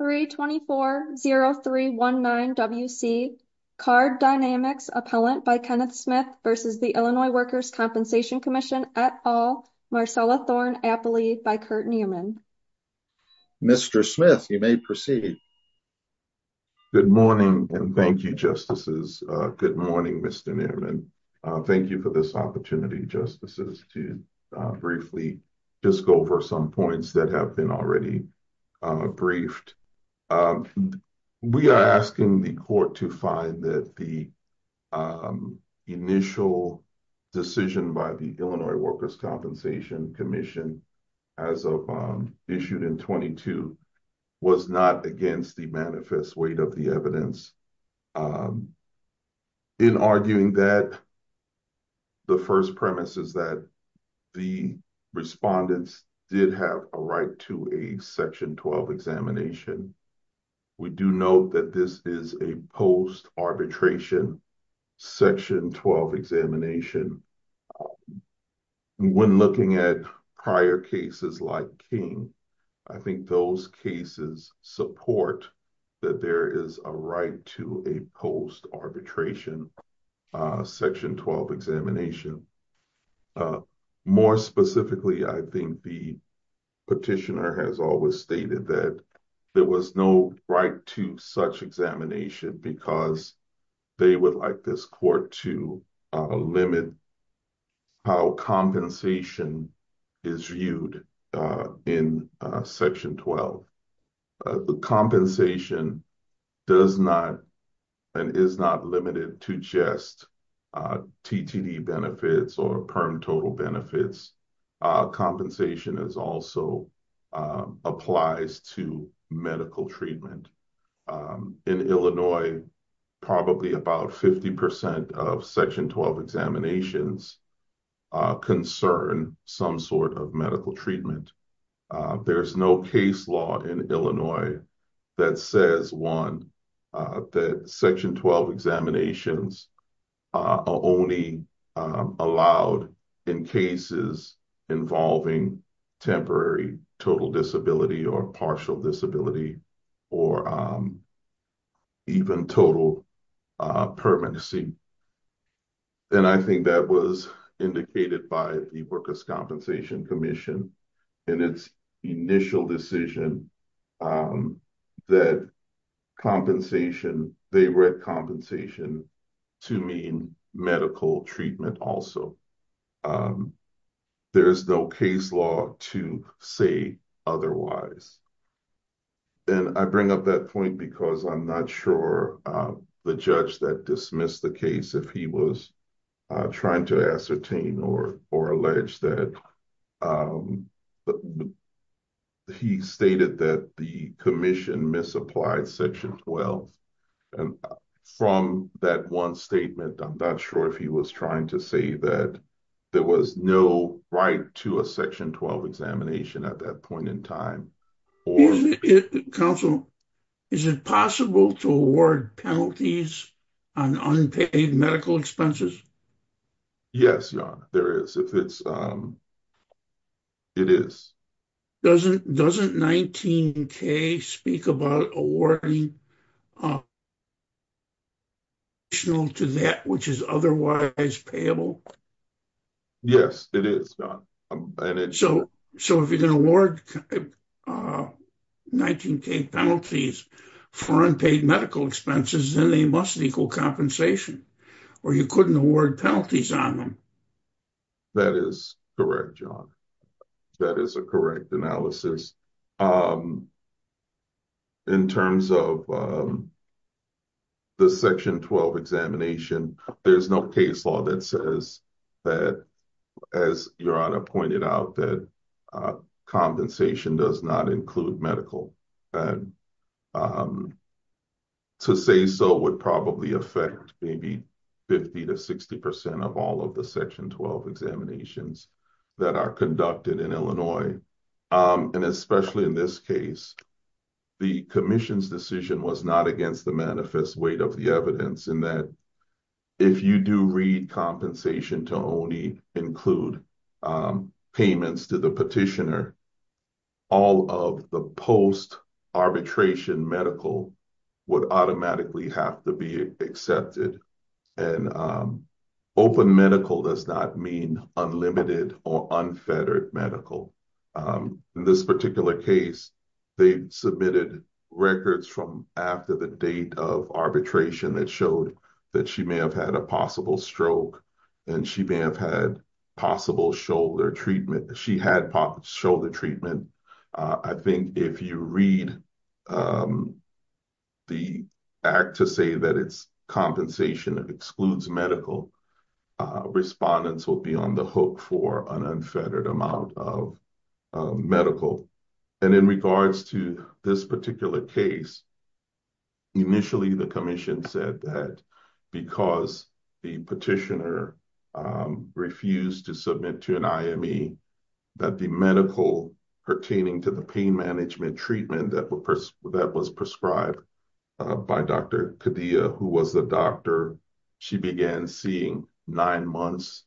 324-0319-WC Card Dynamix, Appellant by Kenneth Smith v. Illinois Workers' Compensation Comm'n et al., Marcella Thorne-Appley by Kurt Neumann Mr. Smith, you may proceed. Good morning and thank you, Justices. Good morning, Mr. Neumann. Thank you for this opportunity, Justices, to briefly just go over some points that have been already briefed. We are asking the Court to find that the initial decision by the Illinois Workers' Compensation Commission as of issued in 22 was not against the manifest weight of the evidence in arguing that the first premise is that the respondents did have a right to a Section 12 examination. We do note that this is a post-arbitration Section 12 examination. When looking at prior cases like King, I think those cases support that there is a right to a post-arbitration Section 12 examination. More specifically, I think the petitioner has always stated that there was no right to such examination because they would like this Court to limit how compensation is viewed in Section 12. The compensation does not and is not limited to just TTD benefits or PERM total benefits. Compensation also applies to medical treatment. In Illinois, probably about 50% of Section 12 examinations concern some sort of medical treatment. There is no case law in Illinois that says, one, that Section 12 examinations are only allowed in cases involving temporary total disability or partial disability or even total permanency. I think that was indicated by the Workers' Compensation Commission in its initial decision that they read compensation to mean medical treatment also. There is no case law to say otherwise. I bring up that point because I'm not sure the judge that dismissed the case, if he was trying to ascertain or allege that he stated that the commission misapplied Section 12. From that one statement, I'm not sure if he was trying to say that there was no right to a Section 12 examination at that point in time. Is it possible to award penalties on unpaid medical expenses? Yes, Your Honor, there is. Doesn't 19K speak about awarding to that which is otherwise payable? Yes, it is. So, if you're going to award 19K penalties for unpaid medical expenses, then they must equal compensation, or you couldn't award penalties on them. That is correct, John. That is a correct analysis. In terms of the Section 12 examination, there is no case law that says that, as Your Honor pointed out, that compensation does not include medical. To say so would probably affect maybe 50 to 60 percent of all of the Section 12 examinations that are conducted in Illinois. Especially in this case, the commission's decision was not against the manifest weight of the evidence in that if you do read compensation to only include payments to the petitioner, all of the post-arbitration medical would automatically have to be accepted. Open medical does not mean unlimited or unfettered medical. In this particular case, they submitted records from after the date of arbitration that showed that she may have had a possible stroke and she may have had possible shoulder treatment. She had shoulder treatment. I think if you read the act to say that it's compensation that excludes medical, respondents will be on the hook for an unfettered amount of medical. In regards to this particular case, initially the commission said that because the petitioner refused to submit to an IME, that the medical pertaining to the pain management treatment that was prescribed by Dr. Kadia, who was the doctor, she began seeing nine months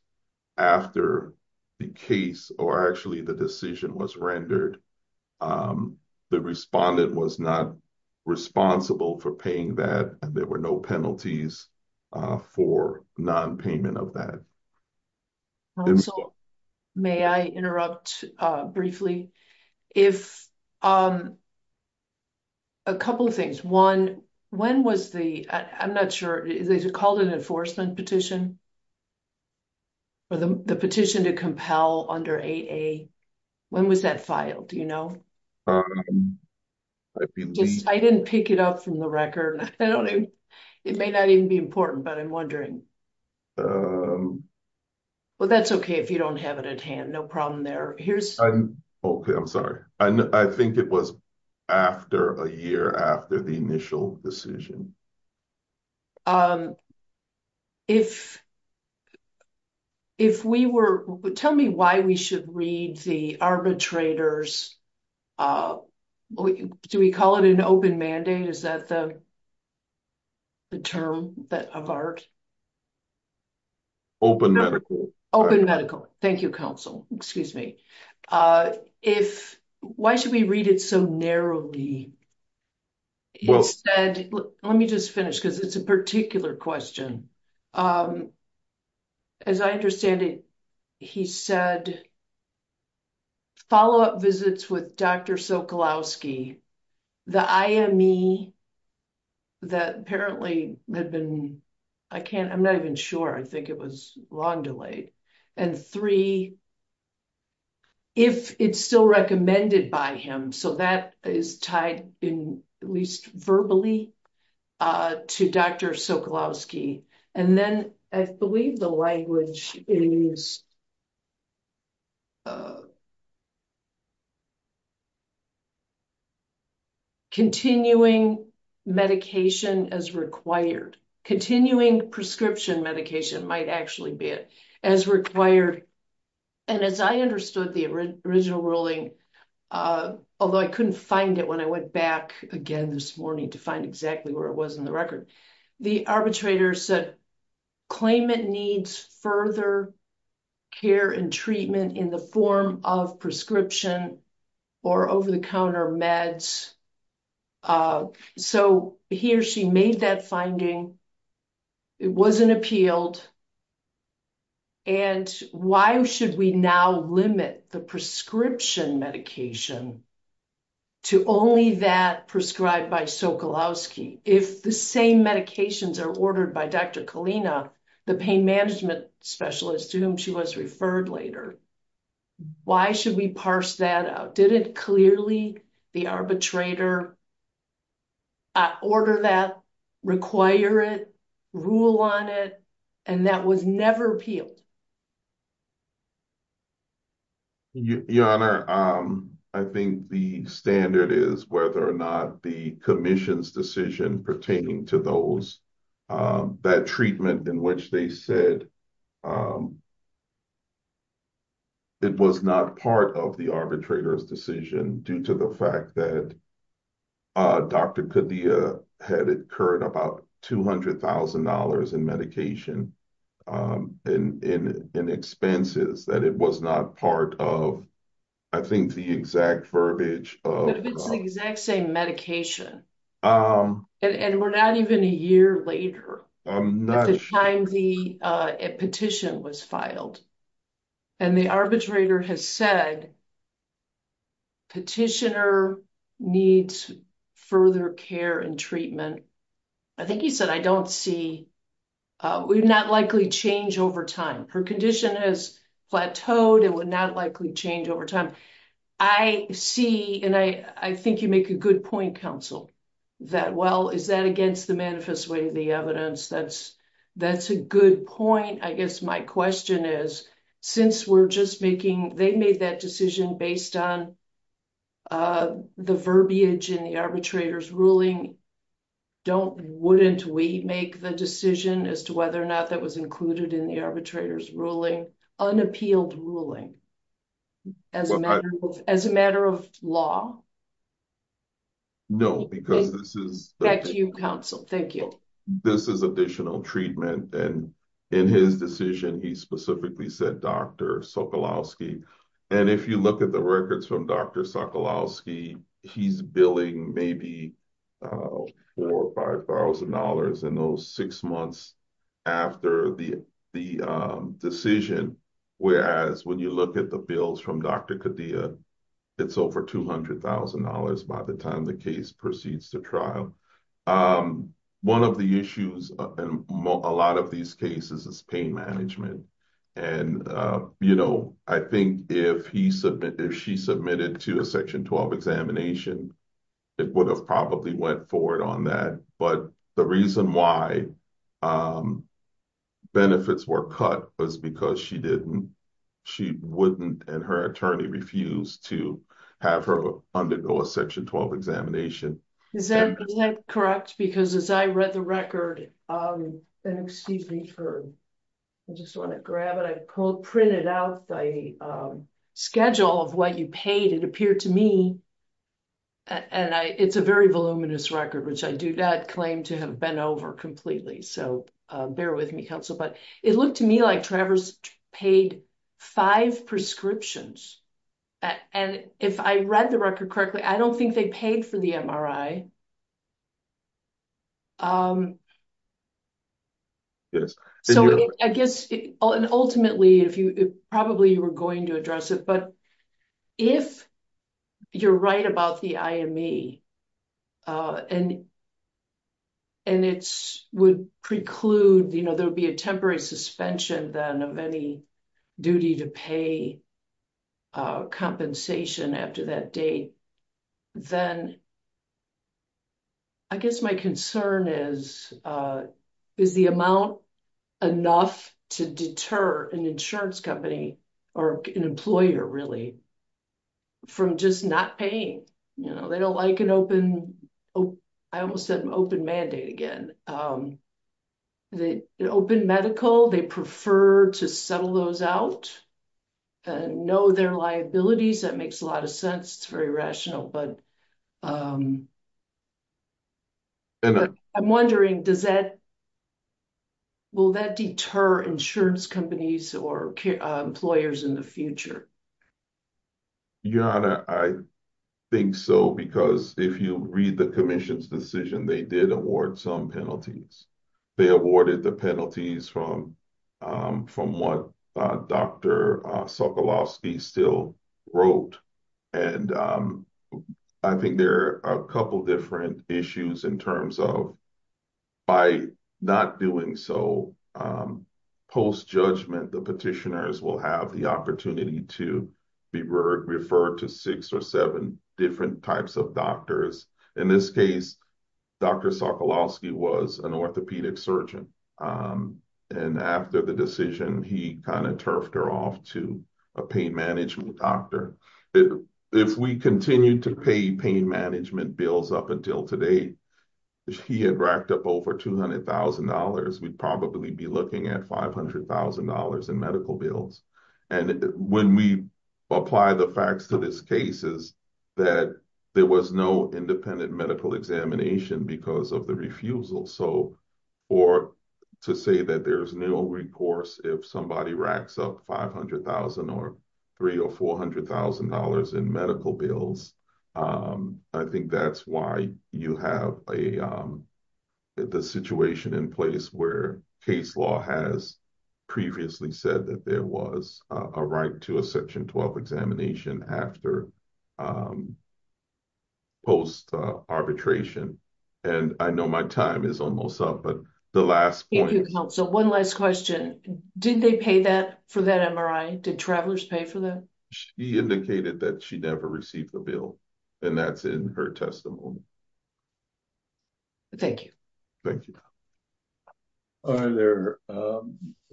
after the case or actually the decision was rendered. The respondent was not responsible for paying that and there were no penalties for non-payment of that. Also, may I interrupt briefly? If I may. A couple of things. One, when was the, I'm not sure, is it called an enforcement petition or the petition to compel under AA? When was that filed? Do you know? I didn't pick it up from the record. It may not even be important, but I'm wondering. Well, that's okay if you don't have it at hand. No problem there. Okay. I'm sorry. I think it was after a year after the initial decision. If we were, tell me why we should read the arbitrators, do we call it an open mandate? Is that the term of art? Open medical. Open medical. Thank you, counsel. Excuse me. Why should we read it so narrowly? Let me just finish because it's a particular question. As I understand it, he said, follow-up visits with Dr. Sokolowski, the IME that apparently had been, I can't, I'm not even sure. I think it was long delayed. And three, if it's still recommended by him. So that is tied in at least verbally to Dr. Sokolowski. And then I believe the language is continuing medication as required. Continuing prescription medication might actually be it as required. And as I understood the original ruling, although I couldn't find it when I went back again this morning to find exactly where it was in the record, the arbitrator said claimant needs further care and treatment in the form of prescription or over-the-counter meds. So he or she made that finding. It wasn't appealed. And why should we now limit the prescription medication to only that prescribed by Sokolowski? If the same medications are ordered by Dr. Kalina, the pain management specialist to whom she was referred later, why should we parse that out? Did it clearly, the arbitrator order that, require it, rule on it, and that was never appealed? Your Honor, I think the standard is whether or not the commission's decision pertaining to those, that treatment in which they said it was not part of the arbitrator's decision due to the fact that Dr. Kadia had incurred about $200,000 in medication and expenses, that it was not part of, I think, the exact verbiage. But if it's the exact same medication, and we're not even a year later at the time the petition was filed, and the arbitrator has said petitioner needs further care and treatment, I think he said, I don't see, would not likely change over time. Her condition has plateaued. It would not likely change over time. I see, and I think you make a good point, counsel, that, well, is that against the manifest way of the evidence? That's a good point. I guess my question is, since we're just making, they made that decision based on the verbiage in the arbitrator's ruling, don't, wouldn't we make the decision as to whether or not that was included in the arbitrator's ruling, unappealed ruling, as a matter of law? No, because this is... Back to you, counsel. Thank you. This is additional treatment, and in his decision, he specifically said Dr. Sokolowski, and if you look at the records from Dr. Sokolowski, he's billing maybe $4,000 or $5,000 in those six months after the decision, whereas when you look at the bills from Dr. Kadia, it's over $200,000 by the time the case proceeds to trial. One of the issues in a lot of these cases is pain management, and I think if he, if she submitted to a Section 12 examination, it would have probably went forward on that, but the reason why benefits were cut was because she didn't, she wouldn't, and her attorney refused to have her undergo a Section 12 examination. Is that correct? Because as I read the record, and excuse me for, I just want to grab it, I co-printed out the schedule of what you paid, it appeared to me, and I, it's a very voluminous record, which I do not claim to have been over completely, so bear with me, counsel, but it looked to me like Travers paid five prescriptions, and if I read the record correctly, I don't think they paid for the MRI. Yes. So I guess, and ultimately, if you, probably you were going to address it, but if you're right about the IME, and, and it would preclude, you know, there would be a compensation after that date, then I guess my concern is, is the amount enough to deter an insurance company, or an employer really, from just not paying, you know, they don't like an open, I almost said an open mandate again, the open medical, they prefer to settle those out, and know their liabilities, that makes a lot of sense, it's very rational, but, and I'm wondering, does that, will that deter insurance companies, or employers in the future? Your Honor, I think so, because if you read the Commission's decision, they did award some penalties, they awarded the penalties from, from what Dr. Sokolowski still wrote, and I think there are a couple different issues in terms of, by not doing so, post-judgment, the petitioners will have the opportunity to be referred to six or seven different types of doctors. In this case, Dr. Sokolowski was an orthopedic surgeon, and after the decision, he kind of turfed her off to a pain management doctor. If we continued to pay pain management bills up until today, if he had racked up over $200,000, we'd probably be looking at $500,000 in medical bills, and when we apply the facts to these cases, that there was no independent medical examination because of the refusal, so, or to say that there's no recourse if somebody racks up $500,000 or $300,000 or $400,000 in medical bills, I think that's why you have a, the situation in place where case law has previously said that there was a right to a Section 12 examination after post-arbitration, and I know my time is almost up, but the last point... Thank you, counsel. One last question. Did they pay that, for that MRI? Did travelers pay for that? She indicated that she never received the bill, and that's in her testimony. Thank you. Thank you. Are there,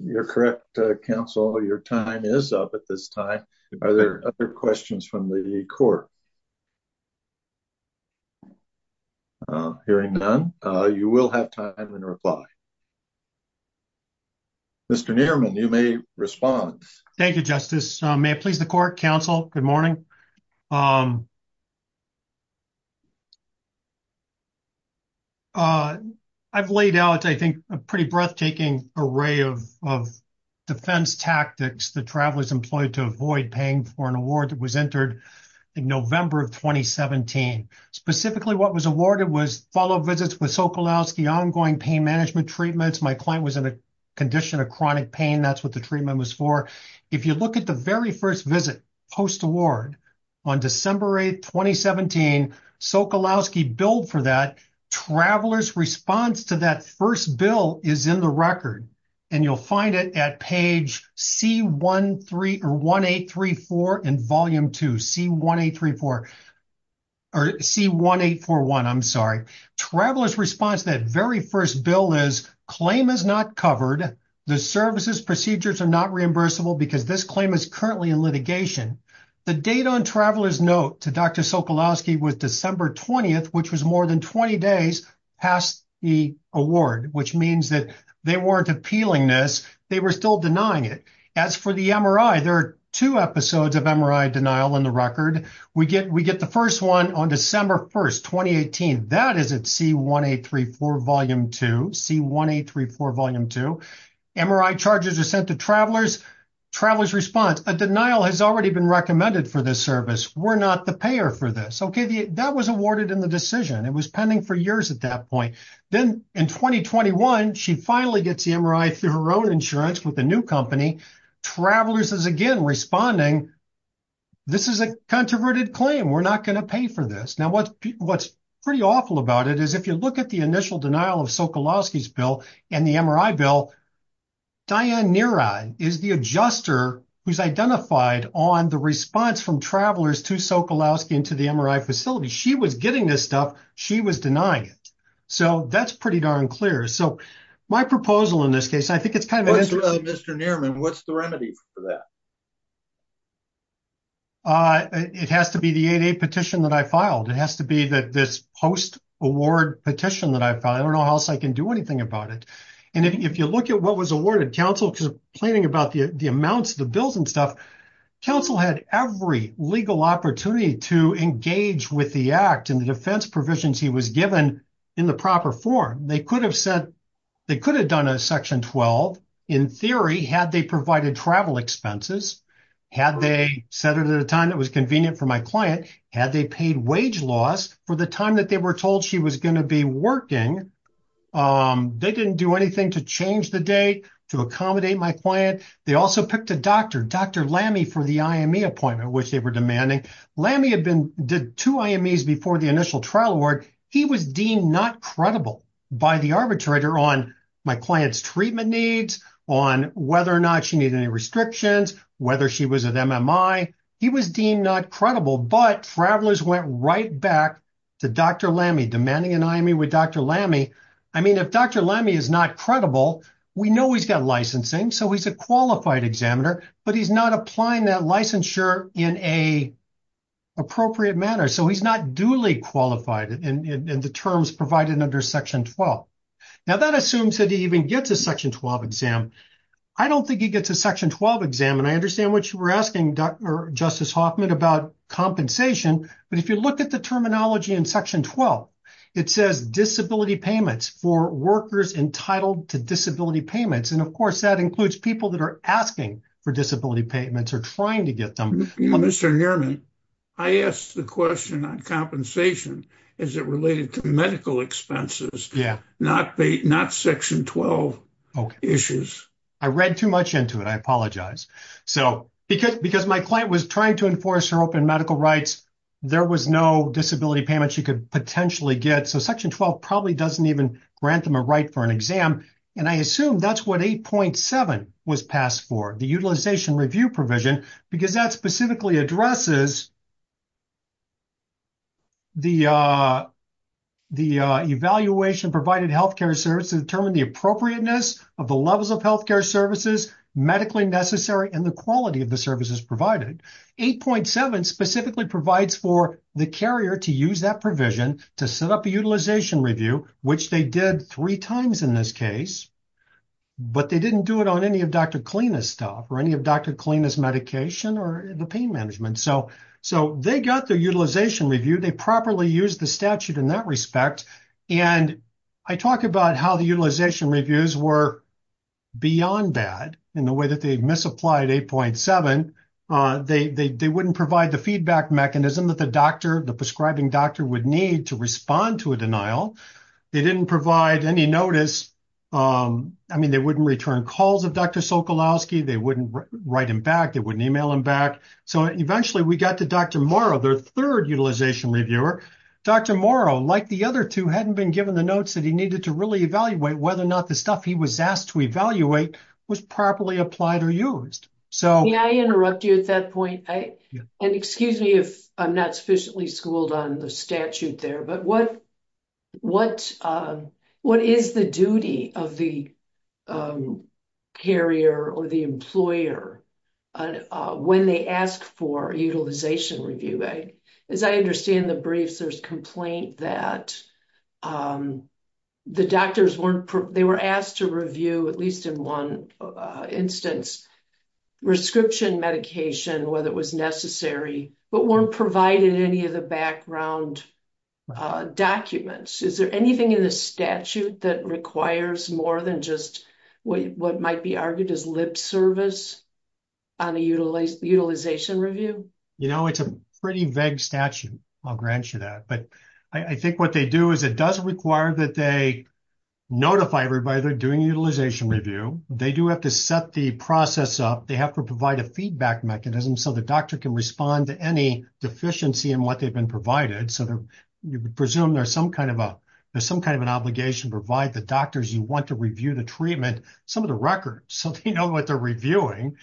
you're correct, counsel, your time is up at this time. Are there other questions from the court? Hearing none, you will have time in reply. Mr. Nierman, you may respond. Thank you, counsel. I've laid out, I think, a pretty breathtaking array of, of defense tactics that travelers employed to avoid paying for an award that was entered in November of 2017. Specifically, what was awarded was follow-up visits with Sokolowski, ongoing pain management treatments. My client was in a condition of chronic pain. That's what the treatment was for. If you look at the very first visit, post-award, on December 8, 2017, Sokolowski billed for that. Travelers' response to that first bill is in the record, and you'll find it at page C1834 in Volume 2, C1834, or C1841, I'm sorry. Travelers' response to that very first bill is claim is not covered. The services procedures are not reimbursable because this claim is currently in litigation. The date on traveler's note to Dr. Sokolowski was December 20th, which was more than 20 days past the award, which means that they weren't appealing this. They were still denying it. As for the MRI, there are two episodes of MRI denial in the record. We get, we get the first one on December 1st, 2018. That is at C1834, Volume 2, C1834, Volume 2. MRI charges are sent to travelers. Travelers' response, a denial has already been recommended for this service. We're not the payer for this. Okay, that was awarded in the decision. It was pending for years at that point. Then in 2021, she finally gets the MRI through her own insurance with a new company. Travelers is responding, this is a controverted claim. We're not going to pay for this. Now, what's pretty awful about it is if you look at the initial denial of Sokolowski's bill and the MRI bill, Diane Neary is the adjuster who's identified on the response from travelers to Sokolowski into the MRI facility. She was getting this stuff. She was denying it. So, that's pretty darn clear. So, my proposal in this case, I think it's kind of interesting. What's the remedy for that? It has to be the 8A petition that I filed. It has to be that this post-award petition that I filed. I don't know how else I can do anything about it. And if you look at what was awarded, counsel was complaining about the amounts of the bills and stuff. Counsel had every legal opportunity to engage with the act and the defense provisions he was given in the proper form. They said they could have done a section 12 in theory had they provided travel expenses, had they set it at a time that was convenient for my client, had they paid wage loss for the time that they were told she was going to be working. They didn't do anything to change the date to accommodate my client. They also picked a doctor, Dr. Lamme for the IME appointment, which they were demanding. Lamme did two IMEs before the initial trial award. He was deemed not credible by the arbitrator on my client's treatment needs, on whether or not she needed any restrictions, whether she was an MMI. He was deemed not credible, but travelers went right back to Dr. Lamme demanding an IME with Dr. Lamme. I mean, if Dr. Lamme is not credible, we know he's got licensing, so he's a qualified examiner, but he's not applying that licensure in a appropriate manner. So he's not duly qualified in the terms provided under section 12. Now that assumes that he even gets a section 12 exam. I don't think he gets a section 12 exam, and I understand what you were asking Justice Hoffman about compensation, but if you look at the terminology in section 12, it says disability payments for workers entitled to disability payments. And of course, that includes people that are asking for disability payments or trying to Mr. Nierman, I asked the question on compensation. Is it related to medical expenses? Not section 12 issues? I read too much into it. I apologize. So because my client was trying to enforce her open medical rights, there was no disability payment she could potentially get. So section 12 probably doesn't even grant them a right for an exam. And I assume that's what 8.7 was passed for, the utilization review provision, because that specifically addresses the evaluation provided health care service to determine the appropriateness of the levels of health care services, medically necessary, and the quality of the services provided. 8.7 specifically provides for the carrier to use that provision to set up a utilization review, which they did three times in this case, but they didn't do it on any of Dr. Kleene's stuff or any of Dr. Kleene's medication or the pain management. So they got their utilization review, they properly used the statute in that respect. And I talk about how the utilization reviews were beyond bad in the way that they misapplied 8.7. They wouldn't provide the feedback mechanism that the prescribing doctor would need to respond to a denial. They didn't provide any notice. I mean, they wouldn't return calls of Dr. Sokolowski, they wouldn't write him back, they wouldn't email him back. So eventually we got to Dr. Morrow, their third utilization reviewer. Dr. Morrow, like the other two, hadn't been given the notes that he needed to really evaluate whether or not the stuff he was asked to evaluate was properly applied or used. May I interrupt you at that point? And excuse me if I'm not sufficiently schooled on the statute there, but what is the duty of the carrier or the employer when they ask for utilization review? As I understand the briefs, there's complaint that the doctors weren't, they were asked to at least in one instance, prescription medication, whether it was necessary, but weren't provided any of the background documents. Is there anything in the statute that requires more than just what might be argued as lip service on a utilization review? You know, it's a pretty vague statute. I'll grant you that. But I think what they do is it does require that they notify everybody they're doing a utilization review. They do have to set the process up. They have to provide a feedback mechanism so the doctor can respond to any deficiency in what they've been provided. So you presume there's some kind of an obligation to provide the doctors you want to review the treatment some of the records so they know what they're reviewing.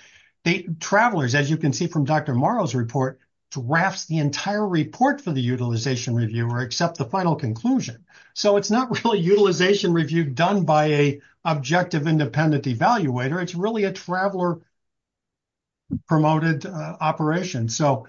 The travelers, as you can see from Dr. Morrow's report, drafts the entire report for the utilization review or accept the final conclusion. So it's not really utilization review done by a objective independent evaluator. It's really a traveler promoted operation. So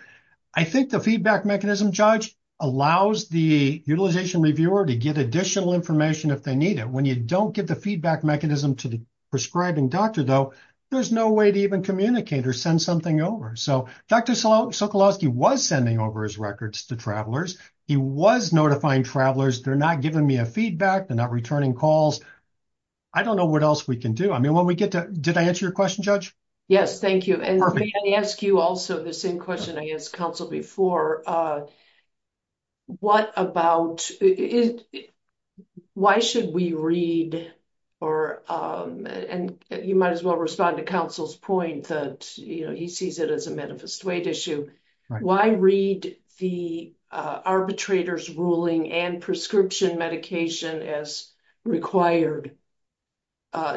I think the feedback mechanism judge allows the utilization reviewer to get additional information if they need it. When you don't get the feedback mechanism to the prescribing doctor, though, there's no way to even communicate or send something over. So Dr. Sokolowski was sending over records to travelers. He was notifying travelers. They're not giving me a feedback. They're not returning calls. I don't know what else we can do. Did I answer your question, Judge? Yes, thank you. And let me ask you also the same question I asked counsel before. Why should we read, and you might as well respond to counsel's point that he sees it as a manifest weight issue, why read the arbitrator's ruling and prescription medication as required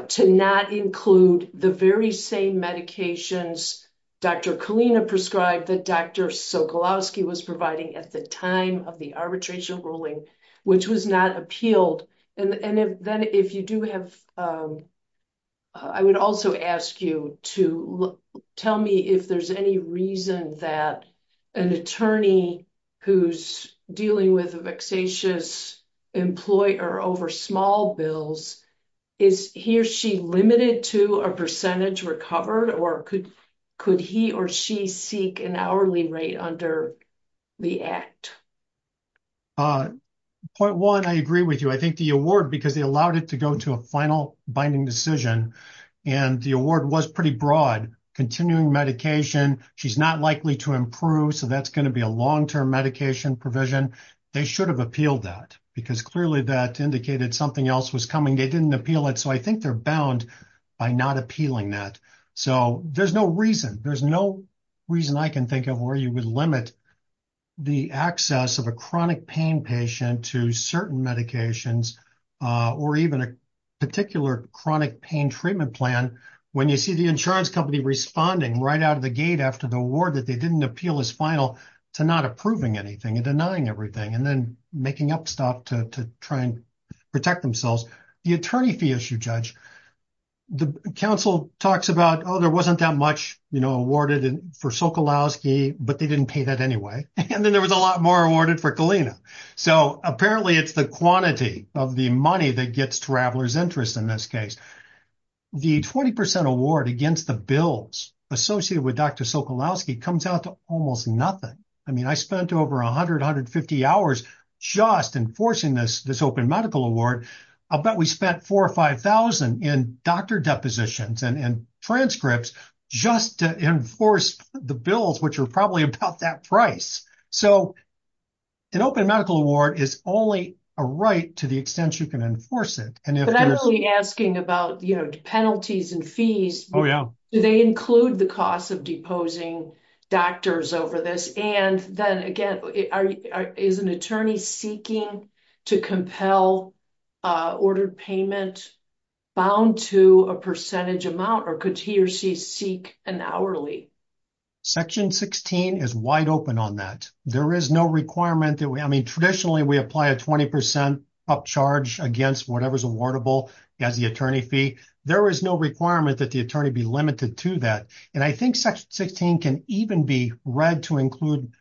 to not include the very same medications Dr. Kalina prescribed that Dr. Sokolowski was providing at the time of the arbitration ruling, which was not appealed? And then if you do have, I would also ask you to tell me if there's any reason that an attorney who's dealing with a vexatious employer over small bills, is he or she limited to a percentage recovered, or could he or she seek an hourly rate under the act? Point one, I agree with you. I think the award, because they allowed it to go to a final binding decision, and the award was pretty broad. Continuing medication, she's not likely to improve, so that's going to be a long-term medication provision. They should have appealed that, because clearly that indicated something else was coming. They didn't appeal it, so I think they're bound by not appealing that. So there's no reason. There's no reason I can think of where you would limit the access of a chronic pain patient to certain medications, or even a particular chronic pain treatment plan, when you see the insurance company responding right out of the gate after the award, that they didn't appeal his final, to not approving anything and denying everything, and then making up stuff to try and protect themselves. The attorney fee issue, Judge, the counsel talks about, oh, there wasn't that much, you know, awarded for Sokolowski, but they didn't pay that anyway, and then there was a lot more awarded for Kalina. So apparently it's the quantity of the money that gets travelers' interest in this case. The 20% award against the bills associated with Dr. Sokolowski comes out to almost nothing. I mean, I spent over 100, 150 hours just enforcing this Open Medical Award. I'll bet we spent four or 5,000 in doctor depositions and transcripts just to enforce the bills, which are probably about that price. So an Open Medical Award is only a right to the extent you can enforce it. But I'm only asking about, you know, penalties and fees. Do they include the cost of deposing bound to a percentage amount, or could he or she seek an hourly? Section 16 is wide open on that. There is no requirement that we, I mean, traditionally, we apply a 20% upcharge against whatever's awardable as the attorney fee. There is no requirement that the attorney be limited to that. And I think Section 16 can even be read to include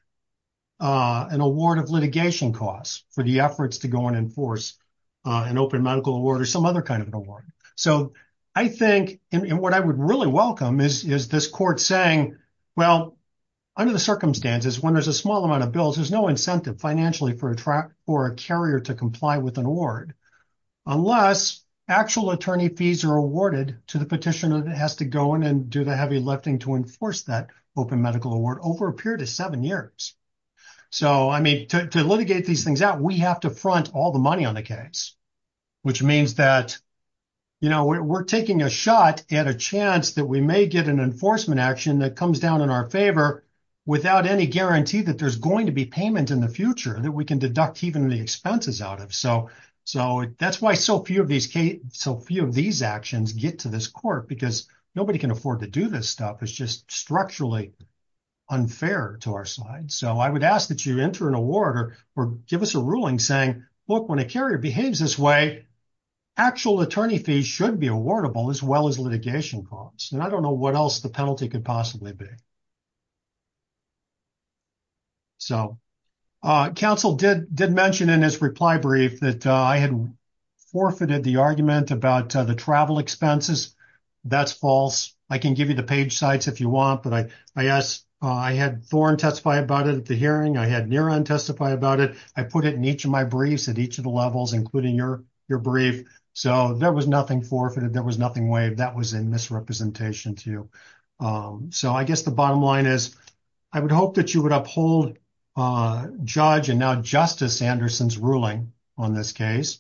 an award of litigation costs for the efforts to go and enforce an Open Medical Award or some other award. So I think, and what I would really welcome is this court saying, well, under the circumstances, when there's a small amount of bills, there's no incentive financially for a carrier to comply with an award unless actual attorney fees are awarded to the petitioner that has to go in and do the heavy lifting to enforce that Open Medical Award over a period of seven years. So, I mean, to litigate these things out, we have to front all the money on the case, which means that, you know, we're taking a shot at a chance that we may get an enforcement action that comes down in our favor without any guarantee that there's going to be payment in the future, that we can deduct even the expenses out of. So that's why so few of these actions get to this court because nobody can afford to do this stuff. It's just structurally unfair to our side. So I would ask that you enter an award or give us a ruling saying, look, when a carrier behaves this way, actual attorney fees should be awardable as well as litigation costs. And I don't know what else the penalty could possibly be. So counsel did mention in his reply brief that I had forfeited the argument about the travel expenses. That's false. I can give you the page sites if you want, but I asked, I had Thorne testify about it at the hearing. I had Neera testify about it. I put it in each of my briefs at each of the levels, including your brief. So there was nothing forfeited. There was nothing waived. That was a misrepresentation to you. So I guess the bottom line is I would hope that you would uphold Judge and now Justice Anderson's ruling on this case.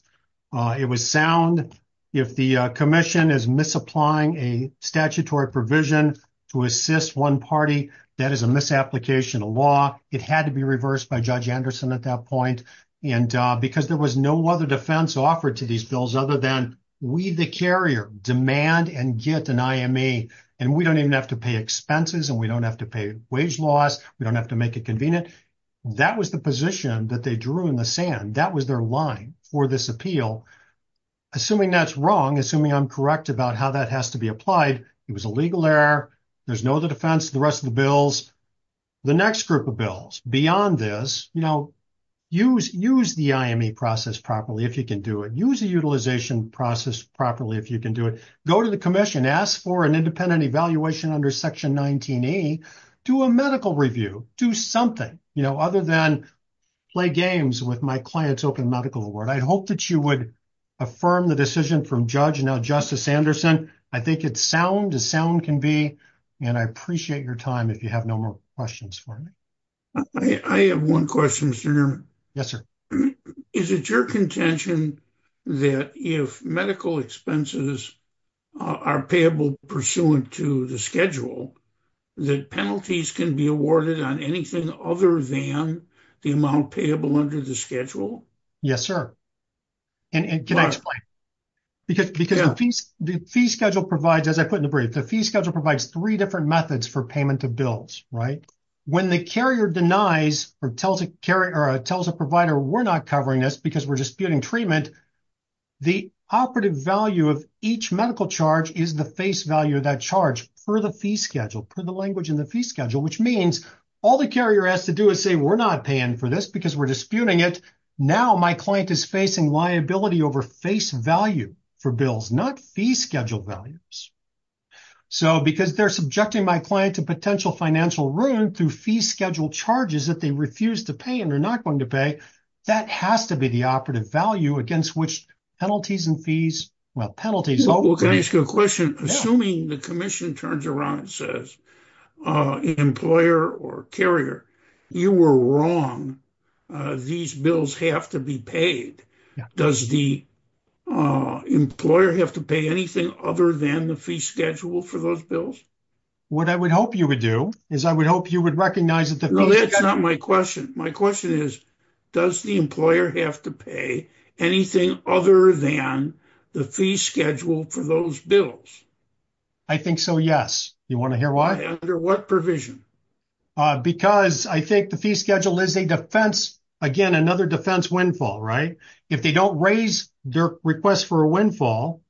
It was sound. If the commission is misapplying a statutory provision to assist one party, that is a misapplication of law. It had to be reversed by Judge Anderson at that point. And because there was no other defense offered to these bills, other than we, the carrier demand and get an IME, and we don't even have to pay expenses and we don't have to pay wage loss. We don't have to make it convenient. That was the position that they drew in the sand. That was their line for this appeal. Assuming that's wrong, assuming I'm correct about how that has to be applied. It was a legal error. There's no other defense. The rest of the bills, the next group of bills beyond this, you know, use the IME process properly. If you can do it, use the utilization process properly. If you can do it, go to the commission, ask for an independent evaluation under section 19E, do a medical review, do something, you know, other than play games with my client's open medical award. I hope that you would affirm the decision from Judge and now Justice Anderson. I think it's sound as sound can be, and I appreciate your time if you have no more questions for me. I have one question, Mr. Nerman. Yes, sir. Is it your contention that if medical expenses are payable pursuant to the schedule, that penalties can be awarded on anything other than the amount payable under the schedule? Yes, sir. And can I explain? Because the fee schedule provides, as I put in the brief, the fee schedule provides three different methods for payment of bills, right? When the carrier denies or tells a provider we're not covering this because we're disputing treatment, the operative value of each medical charge is the face value of that charge per the fee schedule, per the language in the fee schedule, which means all the carrier has to do is say we're not paying for this because we're disputing it. Now my client is facing liability over face value for bills, not fee schedule values. So because they're subjecting my client to potential financial ruin through fee schedule charges that they refuse to pay and are not going to pay, that has to be the operative value against which penalties and fees, well, penalties. Well, can I ask you a question? Assuming the commission turns around and says employer or carrier, you were wrong. These bills have to be paid. Does the employer have to pay anything other than the fee schedule for those bills? What I would hope you would do is I would hope you would recognize that- No, that's not my question. My question is, does the employer have to pay anything other than the fee schedule for those bills? I think so, yes. You want to hear why? Under what provision? Because I think the fee schedule is a defense, again, another defense windfall, right? If they don't raise their request for a windfall,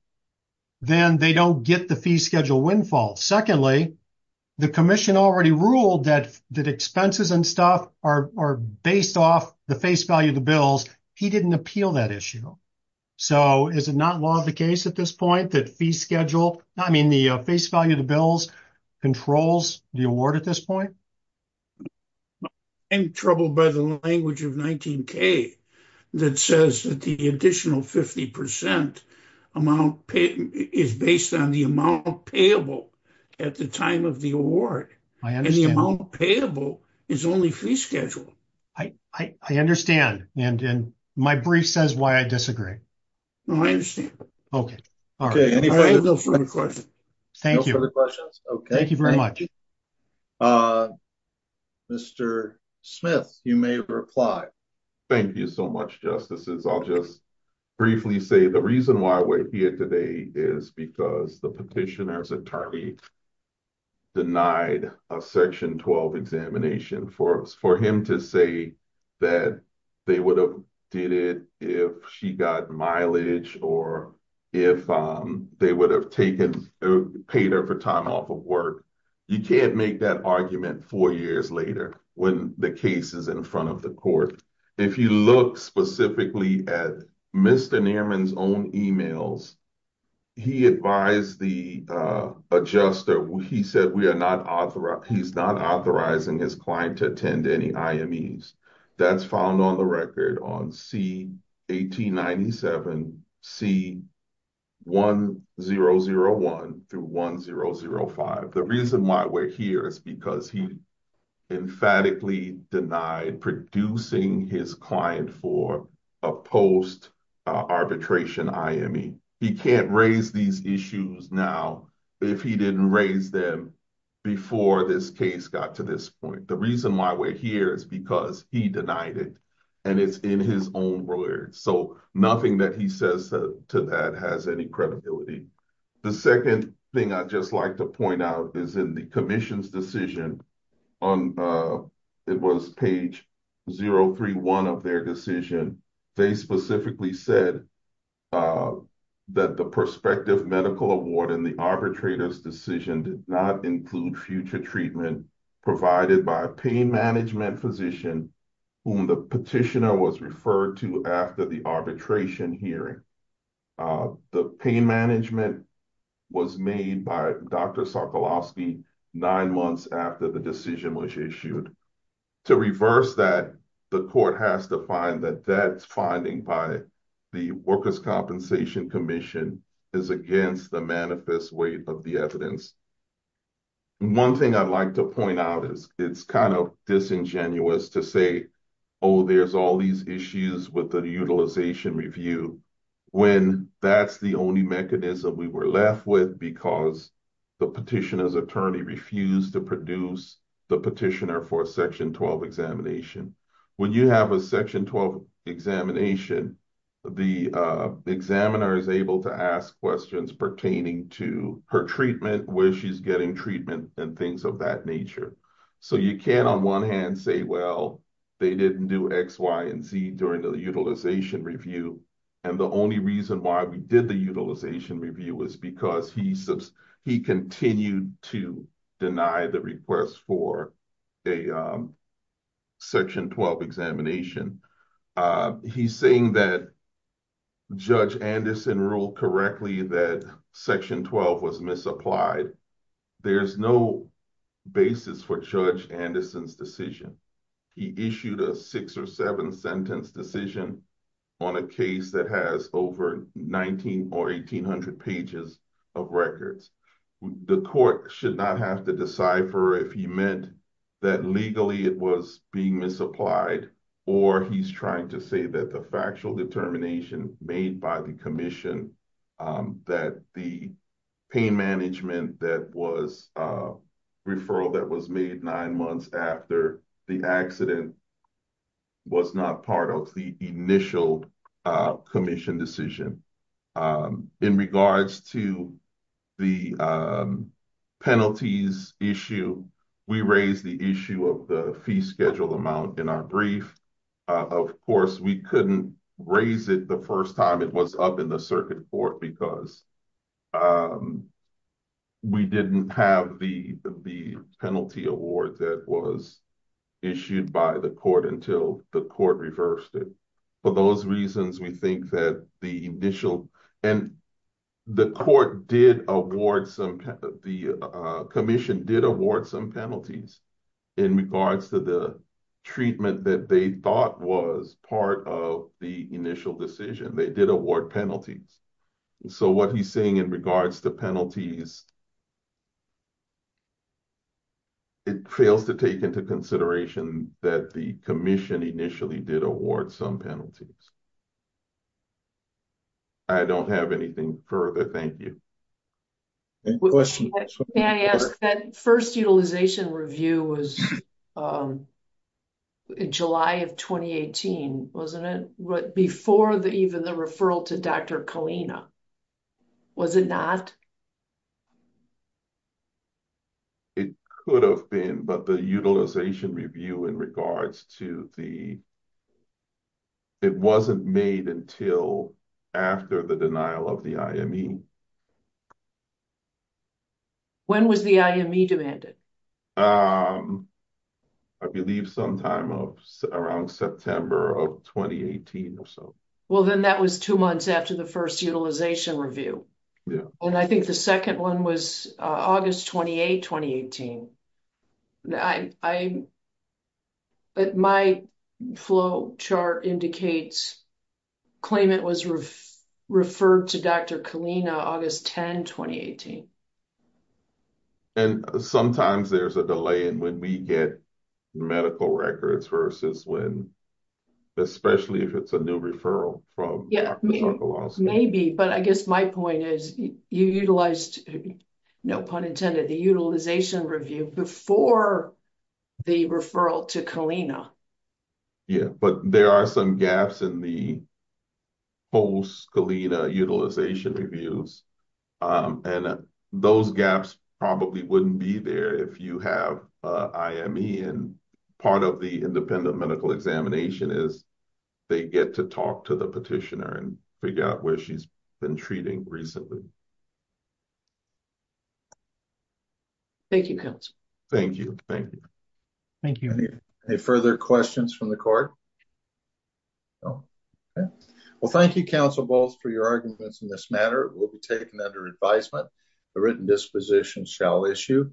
then they don't get the fee schedule windfall. Secondly, the commission already ruled that expenses and stuff are based off the face value of the bills. He didn't appeal that issue. So is it law of the case at this point that fee schedule, I mean, the face value of the bills controls the award at this point? I'm troubled by the language of 19K that says that the additional 50% is based on the amount payable at the time of the award. I understand. And the amount payable is only fee schedule. I understand. And my brief says why I disagree. I understand. Okay. Thank you. No further questions. Okay. Thank you very much. Mr. Smith, you may reply. Thank you so much, Justices. I'll just briefly say the reason why we're here today is because the petitioner's attorney denied a section 12 examination for him to say that they would have did it if she got mileage, or if they would have paid her for time off of work. You can't make that argument four years later when the case is in front of the court. If you look specifically at Mr. Newman's own emails, he advised the adjuster. He said he's not authorizing his client to attend any IMEs. That's found on the record on C1897, C1001 through 1005. The reason why we're here is because he emphatically denied producing his client for a post arbitration IME. He can't raise these issues now if he didn't raise them before this case got to this point. The reason why we're here is because he denied it and it's in his own words. So nothing that he says to that has any credibility. The second thing I'd just like to point out is in the commission's decision, it was page 031 of their decision. They specifically said that the prospective medical award in the arbitrator's decision did not include future treatment provided by a pain management physician whom the petitioner was referred to after the arbitration hearing. The pain management was made by Dr. Sokolowski nine months after the decision was issued. To reverse that, the court has to find that that finding by the workers' compensation commission is against the manifest weight of the evidence. One thing I'd like to point out is it's disingenuous to say, oh, there's all these issues with the utilization review when that's the only mechanism we were left with because the petitioner's attorney refused to produce the petitioner for a section 12 examination. When you have a section 12 examination, the examiner is able to ask questions pertaining to her treatment, where she's getting treatment, and things of nature. You can't on one hand say, well, they didn't do X, Y, and Z during the utilization review. The only reason why we did the utilization review was because he continued to deny the request for a section 12 examination. He's saying that Judge Anderson ruled correctly that section 12 was misapplied. There's no basis for Judge Anderson's decision. He issued a six or seven sentence decision on a case that has over 1,900 or 1,800 pages of records. The court should not have to decipher if he meant that legally it was being misapplied or he's trying to say that the determination made by the commission that the pain management that was a referral that was made nine months after the accident was not part of the initial commission decision. In regards to the penalties issue, we raised the issue of the fee schedule amount in our brief. Of course, we couldn't raise it the first time it was up in the circuit court because we didn't have the penalty award that was issued by the court until the court reversed it. For those reasons, we think that the initial and the commission did award some penalties in regards to the treatment that they thought was part of the initial decision. They did award penalties. What he's saying in regards to penalties, it fails to take into consideration that the commission initially did award some penalties. I don't have anything further. Thank you. Any questions? May I ask that first utilization review was in July of 2018, wasn't it? Before even the referral to Dr. Kalina, was it not? It could have been, but the utilization review in regards to the... It wasn't made until after the denial of the IME. When was the IME demanded? I believe sometime around September of 2018 or so. Well, then that was two months after the first utilization review. I think the second one was August 28, 2018. My flow chart indicates claimant was referred to Dr. Kalina August 10, 2018. Sometimes there's a delay in when we get medical records versus when, especially if it's a new referral from Dr. Zarkolowski. Maybe, but I guess my point is you utilized, no pun intended, the utilization review before the referral to Kalina. Yeah, but there are some gaps in the post-Kalina utilization reviews. Those gaps probably wouldn't be there if you have IME. Part of the independent medical examination is they get to talk to the petitioner and figure out where she's been treating recently. Thank you, counsel. Thank you. Thank you. Thank you. Any further questions from the court? Well, thank you, counsel, both for your arguments in this matter. It will be taken under advisement. The written disposition shall issue.